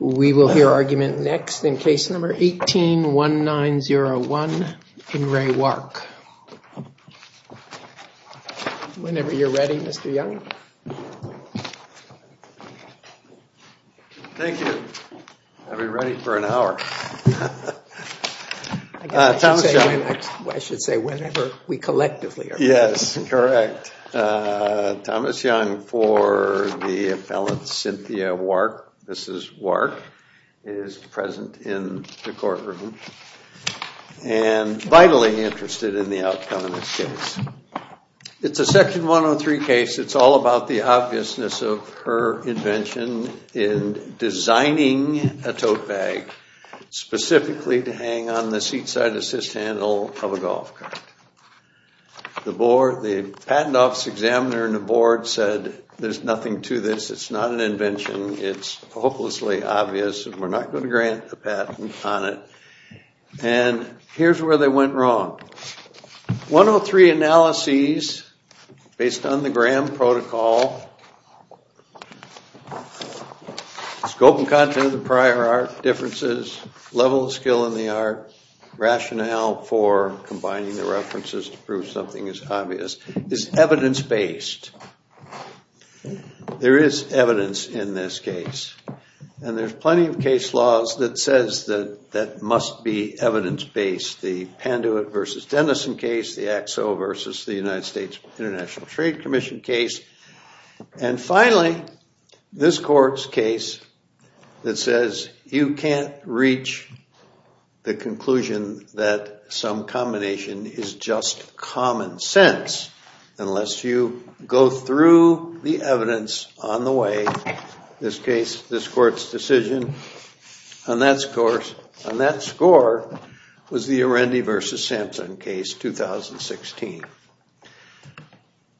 We will hear argument next in case number 18-1901 in Re Wark. Whenever you're ready, Mr. Young. Thank you. I'll be ready for an hour. I should say whenever we collectively are ready. Yes, correct. Thomas Young for the appellant Cynthia Wark. Mrs. Wark is present in the courtroom and vitally interested in the outcome of this case. It's a section 103 case. It's all about the obviousness of her invention in designing a tote bag specifically to hang on the seat side assist handle of a golf cart. The board, the patent office examiner and the board said there's nothing to this. It's not an invention. It's hopelessly obvious and we're not going to grant a patent on it. And here's where they went wrong. 103 analyses based on the Graham protocol, scope and content of the prior art, differences, level of skill in the art, rationale for combining the references to prove something is obvious, is evidence based. There is evidence in this case and there's plenty of case laws that says that that must be evidence based. And finally, this court's case that says you can't reach the conclusion that some combination is just common sense unless you go through the evidence on the way. This court's decision on that score was the Arendi v. Sampson case, 2016.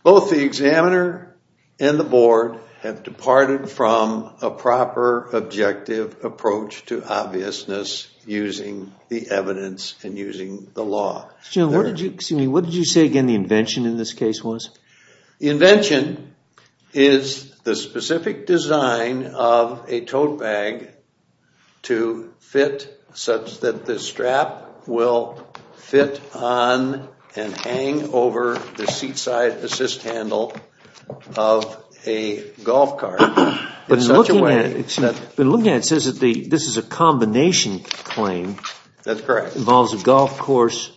Both the examiner and the board have departed from a proper objective approach to obviousness using the evidence and using the law. What did you say again the invention in this case was? The invention is the specific design of a tote bag to fit such that the strap will fit on and hang over the seat side assist handle of a golf cart. But looking at it, it says that this is a combination claim. That's correct. Involves a golf course,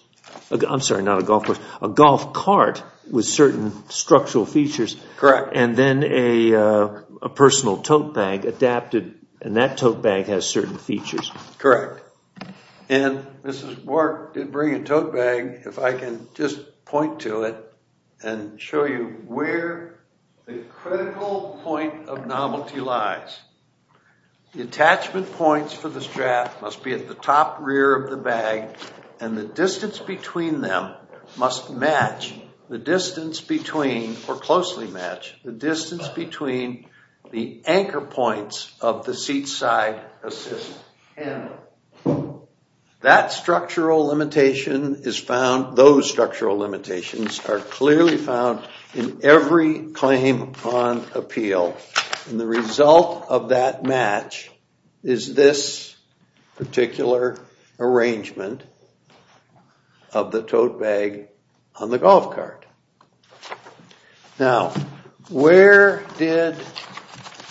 I'm sorry, not a golf course, a golf cart with certain structural features. Correct. And then a personal tote bag adapted and that tote bag has certain features. Correct. And Mrs. Bork did bring a tote bag. If I can just point to it and show you where the critical point of novelty lies. The attachment points for the strap must be at the top rear of the bag and the distance between them must match the distance between or closely match the distance between the anchor points of the seat side assist handle. That structural limitation is found, those structural limitations are clearly found in every claim on appeal. And the result of that match is this particular arrangement of the tote bag on the golf cart.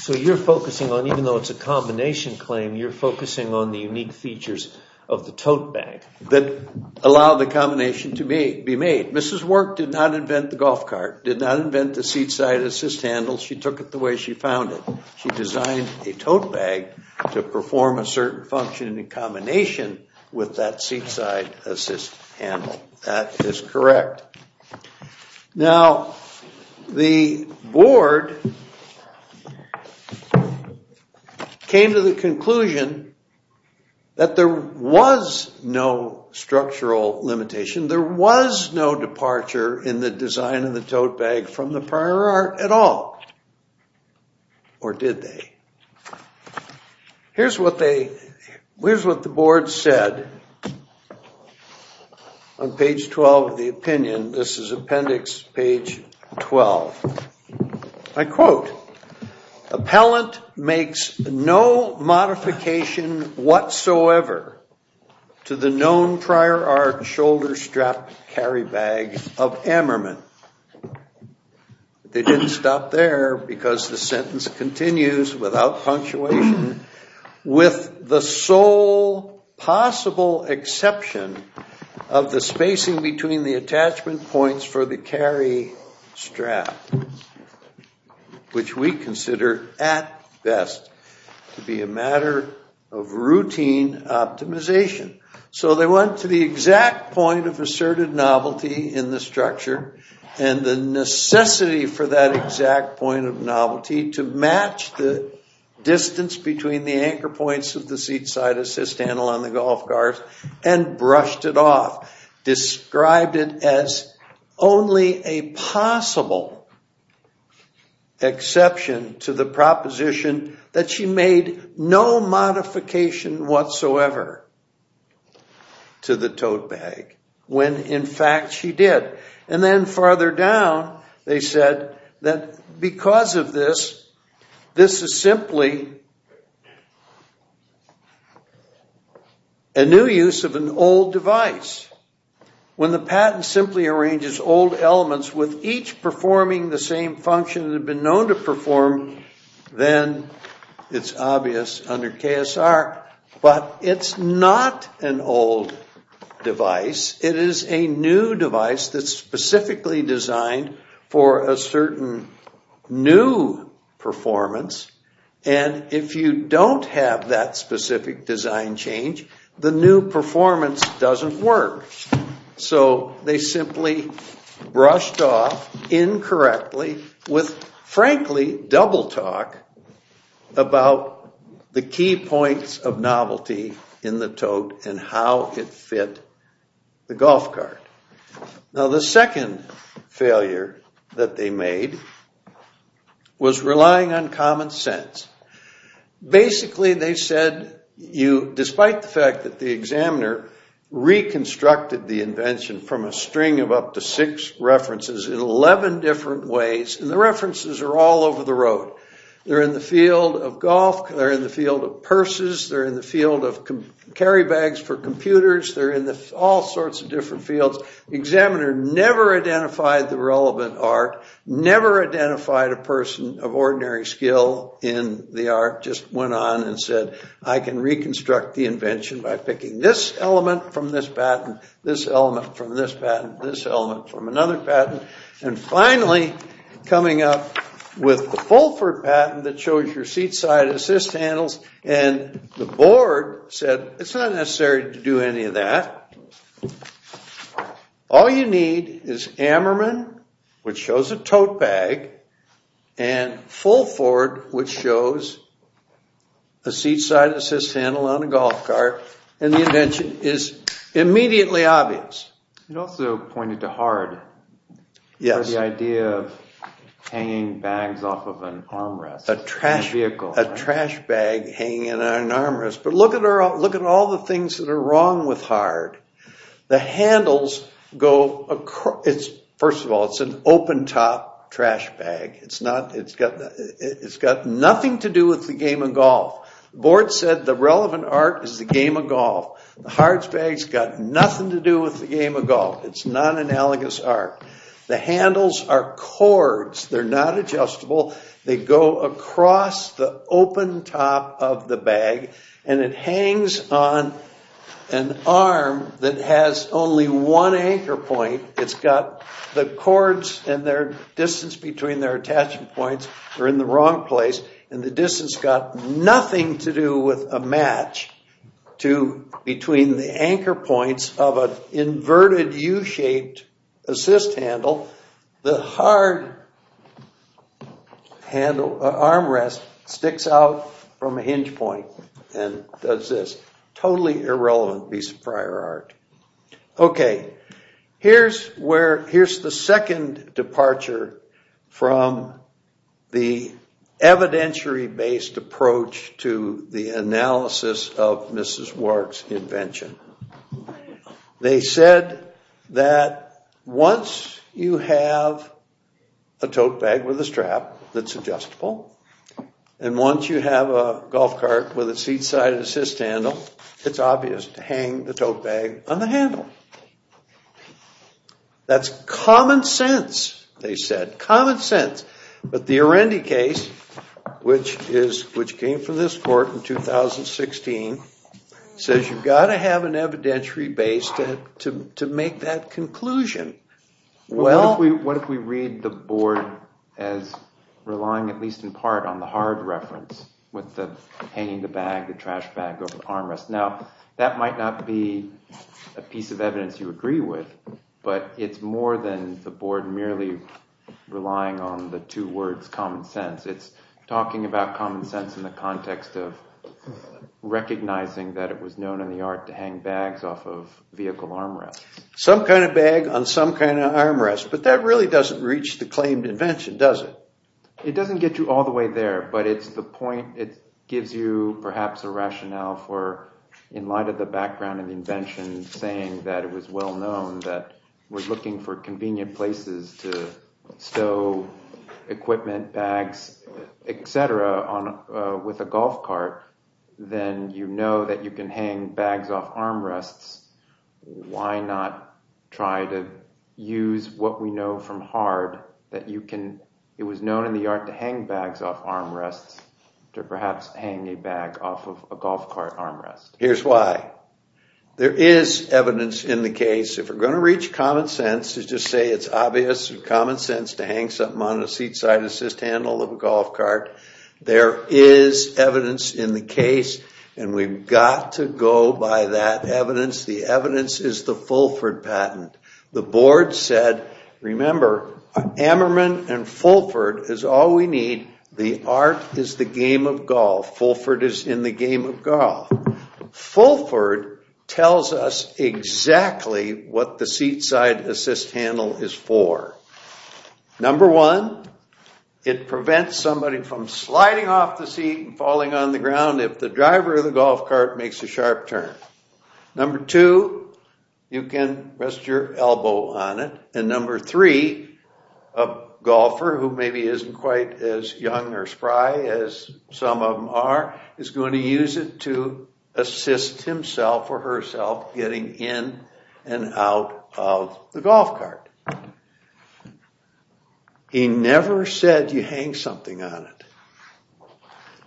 So you're focusing on, even though it's a combination claim, you're focusing on the unique features of the tote bag. That allow the combination to be made. Mrs. Bork did not invent the golf cart, did not invent the seat side assist handle. She took it the way she found it. She designed a tote bag to perform a certain function in combination with that seat side assist handle. That is correct. Now, the board came to the conclusion that there was no structural limitation. There was no departure in the design of the tote bag from the prior art at all. Or did they? Here's what the board said on page 12 of the opinion. This is appendix page 12. I quote, appellant makes no modification whatsoever to the known prior art shoulder strap carry bag of Ammerman. They didn't stop there because the sentence continues without punctuation. With the sole possible exception of the spacing between the attachment points for the carry strap. Which we consider, at best, to be a matter of routine optimization. So they went to the exact point of asserted novelty in the structure. And the necessity for that exact point of novelty to match the distance between the anchor points of the seat side assist handle on the golf cart. And brushed it off. Described it as only a possible exception to the proposition that she made no modification whatsoever to the tote bag. When, in fact, she did. And then farther down, they said that because of this, this is simply a new use of an old device. When the patent simply arranges old elements with each performing the same function that had been known to perform, then it's obvious under KSR. But it's not an old device. It is a new device that's specifically designed for a certain new performance. And if you don't have that specific design change, the new performance doesn't work. So they simply brushed off incorrectly with, frankly, double talk about the key points of novelty in the tote and how it fit the golf cart. Now the second failure that they made was relying on common sense. Basically, they said, despite the fact that the examiner reconstructed the invention from a string of up to six references in 11 different ways. And the references are all over the road. They're in the field of golf. They're in the field of purses. They're in the field of carry bags for computers. They're in all sorts of different fields. Examiner never identified the relevant art. Never identified a person of ordinary skill in the art. Just went on and said, I can reconstruct the invention by picking this element from this patent, this element from this patent, this element from another patent. And finally, coming up with the Fulford patent that shows your seat side assist handles. And the board said, it's not necessary to do any of that. All you need is Ammerman, which shows a tote bag, and Fulford, which shows a seat side assist handle on a golf cart. And the invention is immediately obvious. It also pointed to hard. Yes. The idea of hanging bags off of an armrest. A trash bag hanging in an armrest. But look at all the things that are wrong with hard. The handles go across. First of all, it's an open top trash bag. It's got nothing to do with the game of golf. Board said the relevant art is the game of golf. The hard bag's got nothing to do with the game of golf. It's non-analogous art. The handles are cords. They're not adjustable. They go across the open top of the bag. And it hangs on an arm that has only one anchor point. It's got the cords and their distance between their attachment points are in the wrong place. And the distance got nothing to do with a match between the anchor points of an inverted U-shaped assist handle. The hard armrest sticks out from a hinge point and does this. Totally irrelevant piece of prior art. Okay. Here's the second departure from the evidentiary-based approach to the analysis of Mrs. Wark's invention. They said that once you have a tote bag with a strap that's adjustable, and once you have a golf cart with a seat-sided assist handle, it's obvious to hang the tote bag on the handle. That's common sense, they said. Common sense. But the Arendi case, which came from this court in 2016, says you've got to have an evidentiary base to make that conclusion. What if we read the board as relying at least in part on the hard reference, with the hanging the bag, the trash bag over the armrest? Now, that might not be a piece of evidence you agree with, but it's more than the board merely relying on the two words common sense. It's talking about common sense in the context of recognizing that it was known in the art to hang bags off of vehicle armrests. Some kind of bag on some kind of armrest. But that really doesn't reach the claimed invention, does it? It doesn't get you all the way there, but it's the point. It gives you perhaps a rationale for, in light of the background of the invention, saying that it was well known that we're looking for convenient places to stow equipment, bags, etc. with a golf cart, then you know that you can hang bags off armrests. Why not try to use what we know from hard, that it was known in the art to hang bags off armrests, to perhaps hang a bag off of a golf cart armrest? Here's why. There is evidence in the case, if we're going to reach common sense, to just say it's obvious and common sense to hang something on a seat side assist handle of a golf cart, there is evidence in the case, and we've got to go by that evidence. The evidence is the Fulford patent. The board said, remember, Ammerman and Fulford is all we need. The art is the game of golf. Fulford is in the game of golf. Fulford tells us exactly what the seat side assist handle is for. Number one, it prevents somebody from sliding off the seat and falling on the ground if the driver of the golf cart makes a sharp turn. Number two, you can rest your elbow on it. And number three, a golfer who maybe isn't quite as young or spry as some of them are, is going to use it to assist himself or herself getting in and out of the golf cart. He never said you hang something on it.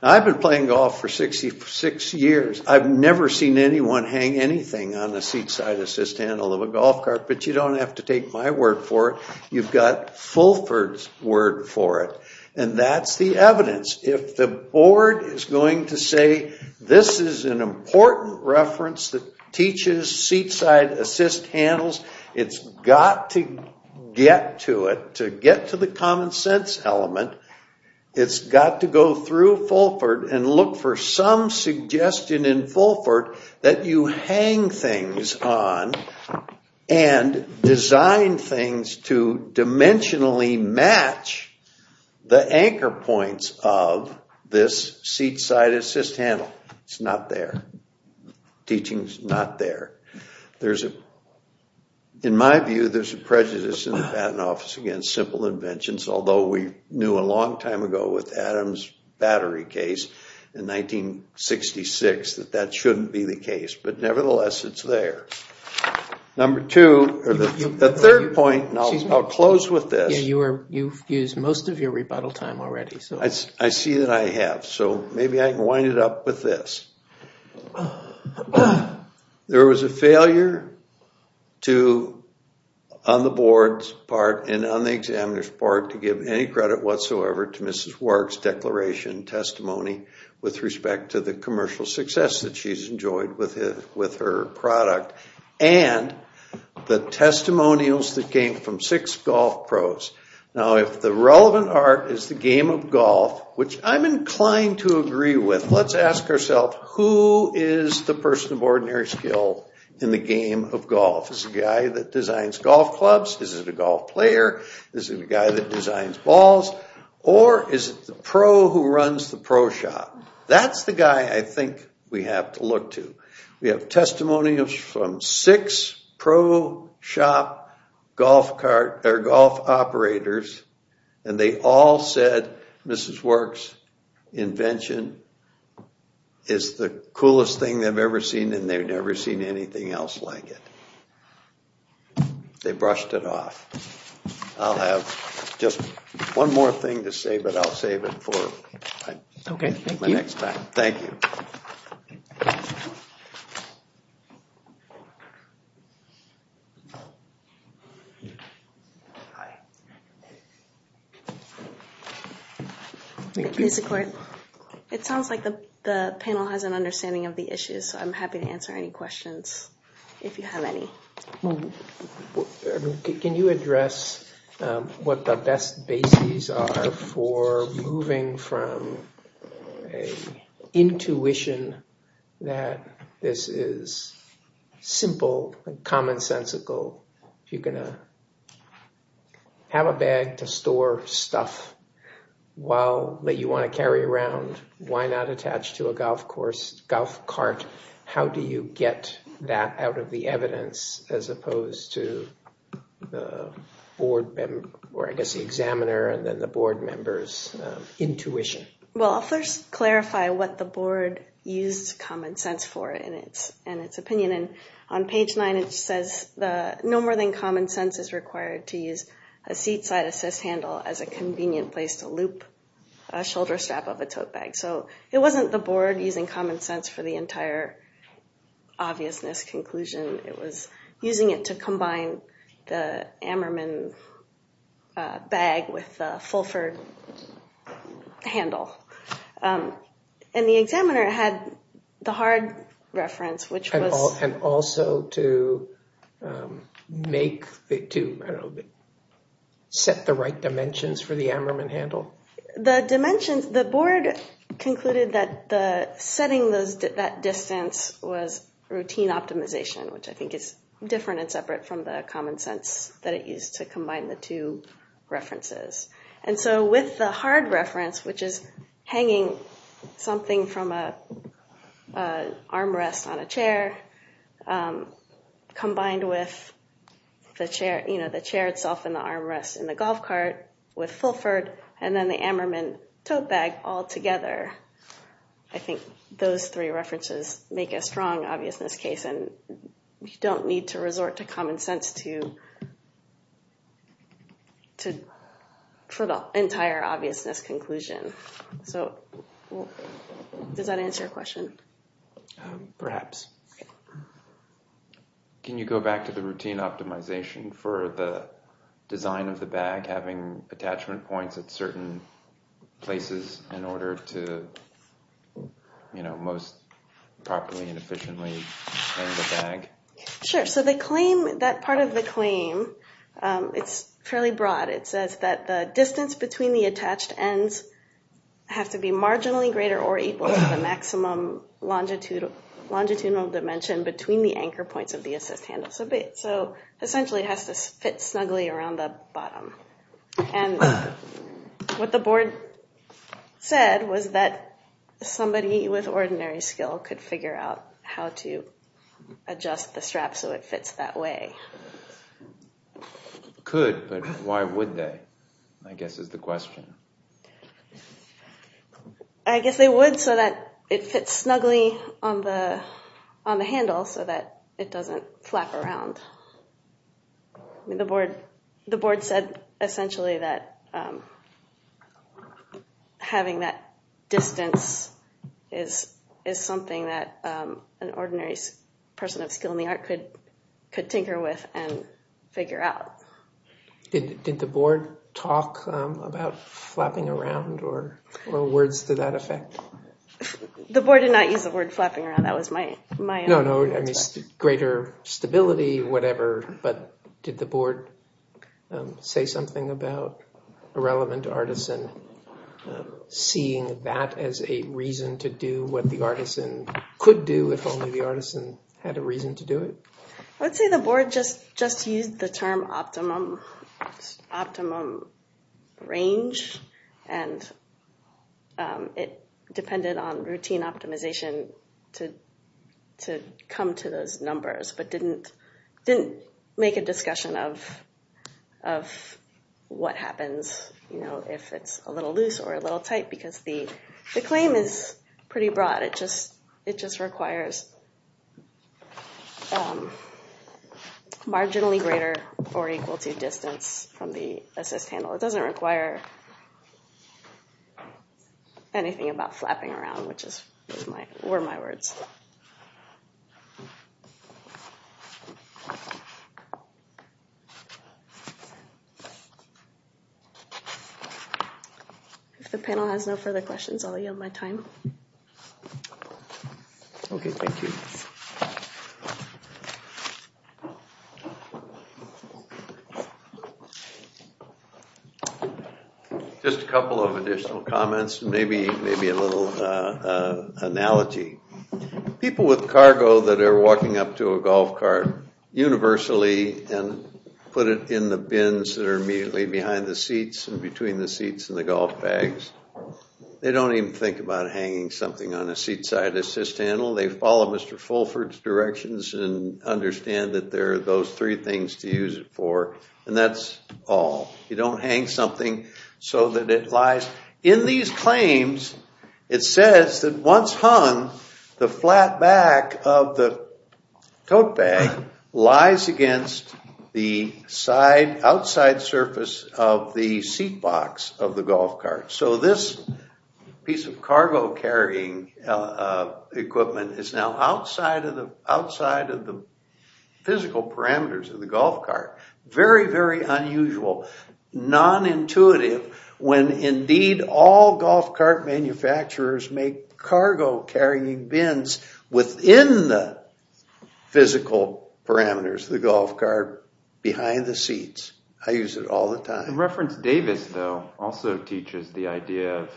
I've been playing golf for 66 years. I've never seen anyone hang anything on the seat side assist handle of a golf cart, but you don't have to take my word for it. You've got Fulford's word for it. And that's the evidence. If the board is going to say this is an important reference that teaches seat side assist handles, it's got to get to it, to get to the common sense element. It's got to go through Fulford and look for some suggestion in Fulford that you hang things on and design things to dimensionally match the anchor points of this seat side assist handle. It's not there. Teaching's not there. In my view, there's a prejudice in the Patent Office against simple inventions, although we knew a long time ago with Adam's battery case in 1966 that that shouldn't be the case. But nevertheless, it's there. Number two, or the third point, and I'll close with this. You've used most of your rebuttal time already. I see that I have, so maybe I can wind it up with this. There was a failure on the board's part and on the examiner's part to give any credit whatsoever to Mrs. Warg's declaration and testimony with respect to the commercial success that she's enjoyed with her product and the testimonials that came from six golf pros. Now, if the relevant art is the game of golf, which I'm inclined to agree with, let's ask ourselves, who is the person of ordinary skill in the game of golf? Is it a guy that designs golf clubs? Is it a golf player? Is it a guy that designs balls? Or is it the pro who runs the pro shop? That's the guy I think we have to look to. We have testimonials from six pro shop golf operators, and they all said Mrs. Warg's invention is the coolest thing they've ever seen, and they've never seen anything else like it. They brushed it off. I'll have just one more thing to say, but I'll save it for my next time. Thank you. Hi. Thank you. Mr. Court, it sounds like the panel has an understanding of the issues, so I'm happy to answer any questions if you have any. Can you address what the best bases are for moving from an intuitive intuition that this is simple and commonsensical? If you're going to have a bag to store stuff that you want to carry around, why not attach to a golf cart? How do you get that out of the evidence as opposed to the board, or I guess the examiner and then the board members' intuition? Well, I'll first clarify what the board used common sense for in its opinion. On page 9 it says no more than common sense is required to use a seat-side assist handle as a convenient place to loop a shoulder strap of a tote bag. So it wasn't the board using common sense for the entire obviousness conclusion. It was using it to combine the Ammerman bag with the Fulford handle. And the examiner had the hard reference, which was – And also to make – to set the right dimensions for the Ammerman handle? The dimensions – the board concluded that setting that distance was routine optimization, which I think is different and separate from the common sense that it used to combine the two references. And so with the hard reference, which is hanging something from an arm rest on a chair combined with the chair itself and the arm rest in the golf cart with Fulford and then the Ammerman tote bag all together, I think those three references make a strong obviousness case. And you don't need to resort to common sense to – for the entire obviousness conclusion. So does that answer your question? Perhaps. Can you go back to the routine optimization for the design of the bag, having attachment points at certain places in order to most properly and efficiently hang the bag? Sure. So the claim – that part of the claim, it's fairly broad. It says that the distance between the attached ends have to be marginally greater or equal to the maximum longitudinal dimension between the anchor points of the assist handle. So essentially it has to fit snugly around the bottom. And what the board said was that somebody with ordinary skill could figure out how to adjust the strap so it fits that way. Could, but why would they, I guess is the question. I guess they would so that it fits snugly on the handle so that it doesn't flap around. The board said essentially that having that distance is something that an ordinary person of skill in the art could tinker with and figure out. Did the board talk about flapping around or words to that effect? The board did not use the word flapping around. That was my own perspective. No, no, greater stability, whatever, but did the board say something about a relevant artisan seeing that as a reason to do what the artisan could do if only the artisan had a reason to do it? I would say the board just used the term optimum range and it depended on routine optimization to come to those numbers but didn't make a discussion of what happens if it's a little loose or a little tight because the claim is pretty broad. It just requires marginally greater or equal to distance from the assist handle. It doesn't require anything about flapping around, which were my words. If the panel has no further questions, I'll yield my time. Okay, thank you. Just a couple of additional comments, maybe a little analogy. People with cargo that are walking up to a golf cart universally and put it in the bins that are immediately behind the seats and between the seats and the golf bags, they don't even think about hanging something on the seat side assist handle. They follow Mr. Fulford's directions and understand that there are those three things to use it for and that's all. You don't hang something so that it lies. In these claims, it says that once hung, the flat back of the tote bag lies against the outside surface of the seat box of the golf cart. So this piece of cargo carrying equipment is now outside of the physical parameters of the golf cart. Very, very unusual, non-intuitive when indeed all golf cart manufacturers make cargo carrying bins within the physical parameters of the golf cart behind the seats. I use it all the time. The reference Davis, though, also teaches the idea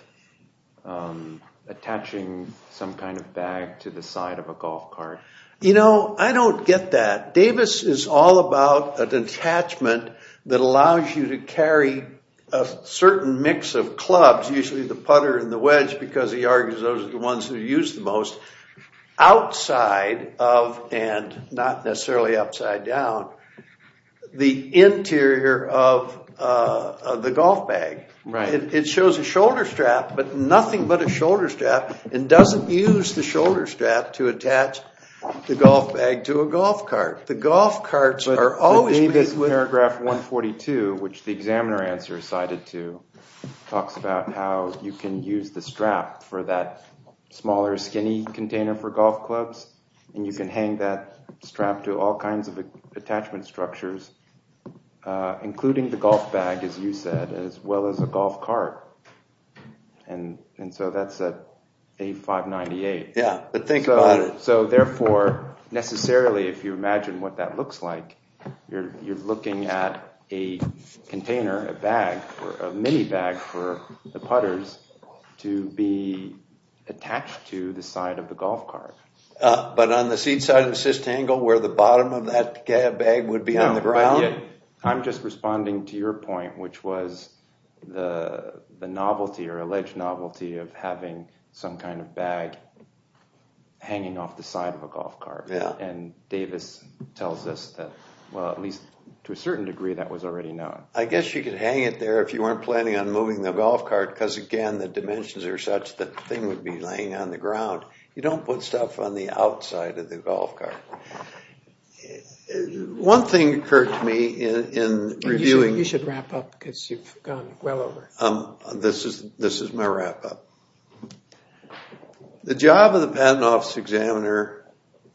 of attaching some kind of bag to the side of a golf cart. You know, I don't get that. Davis is all about an attachment that allows you to carry a certain mix of clubs, usually the putter and the wedge because he argues those are the ones who use the most, outside of, and not necessarily upside down, the interior of the golf bag. It shows a shoulder strap, but nothing but a shoulder strap, and doesn't use the shoulder strap to attach the golf bag to a golf cart. The golf carts are always... Paragraph 142, which the examiner answer is cited to, talks about how you can use the strap for that smaller, skinny container for golf clubs, and you can hang that strap to all kinds of attachment structures, including the golf bag, as you said, as well as a golf cart. And so that's A598. Yeah, but think about it. So therefore, necessarily, if you imagine what that looks like, you're looking at a container, a bag, a mini bag for the putters to be attached to the side of the golf cart. But on the seat side of the cistangle, where the bottom of that bag would be on the ground? I'm just responding to your point, which was the novelty, or alleged novelty, of having some kind of bag hanging off the side of a golf cart. And Davis tells us that, well, at least to a certain degree, that was already known. I guess you could hang it there if you weren't planning on moving the golf cart, because again, the dimensions are such that the thing would be laying on the ground. You don't put stuff on the outside of the golf cart. One thing occurred to me in reviewing... You should wrap up, because you've gone well over. This is my wrap up. The job of the patent office examiner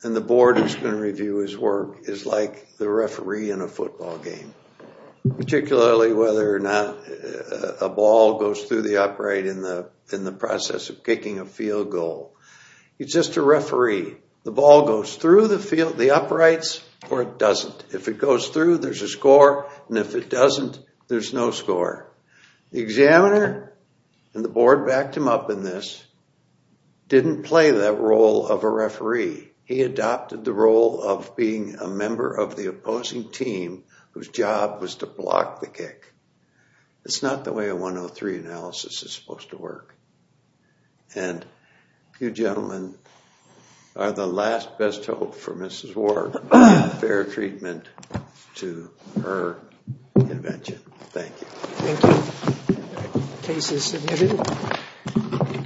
and the board that's going to review his work is like the referee in a football game, particularly whether or not a ball goes through the upright in the process of kicking a field goal. It's just a referee. The ball goes through the uprights, or it doesn't. If it goes through, there's a score. And if it doesn't, there's no score. The examiner, and the board backed him up in this, didn't play that role of a referee. He adopted the role of being a member of the opposing team, whose job was to block the kick. It's not the way a 103 analysis is supposed to work. And you gentlemen are the last best hope for Mrs. Ward of fair treatment to her invention. Thank you. Thank you. Case is submitted.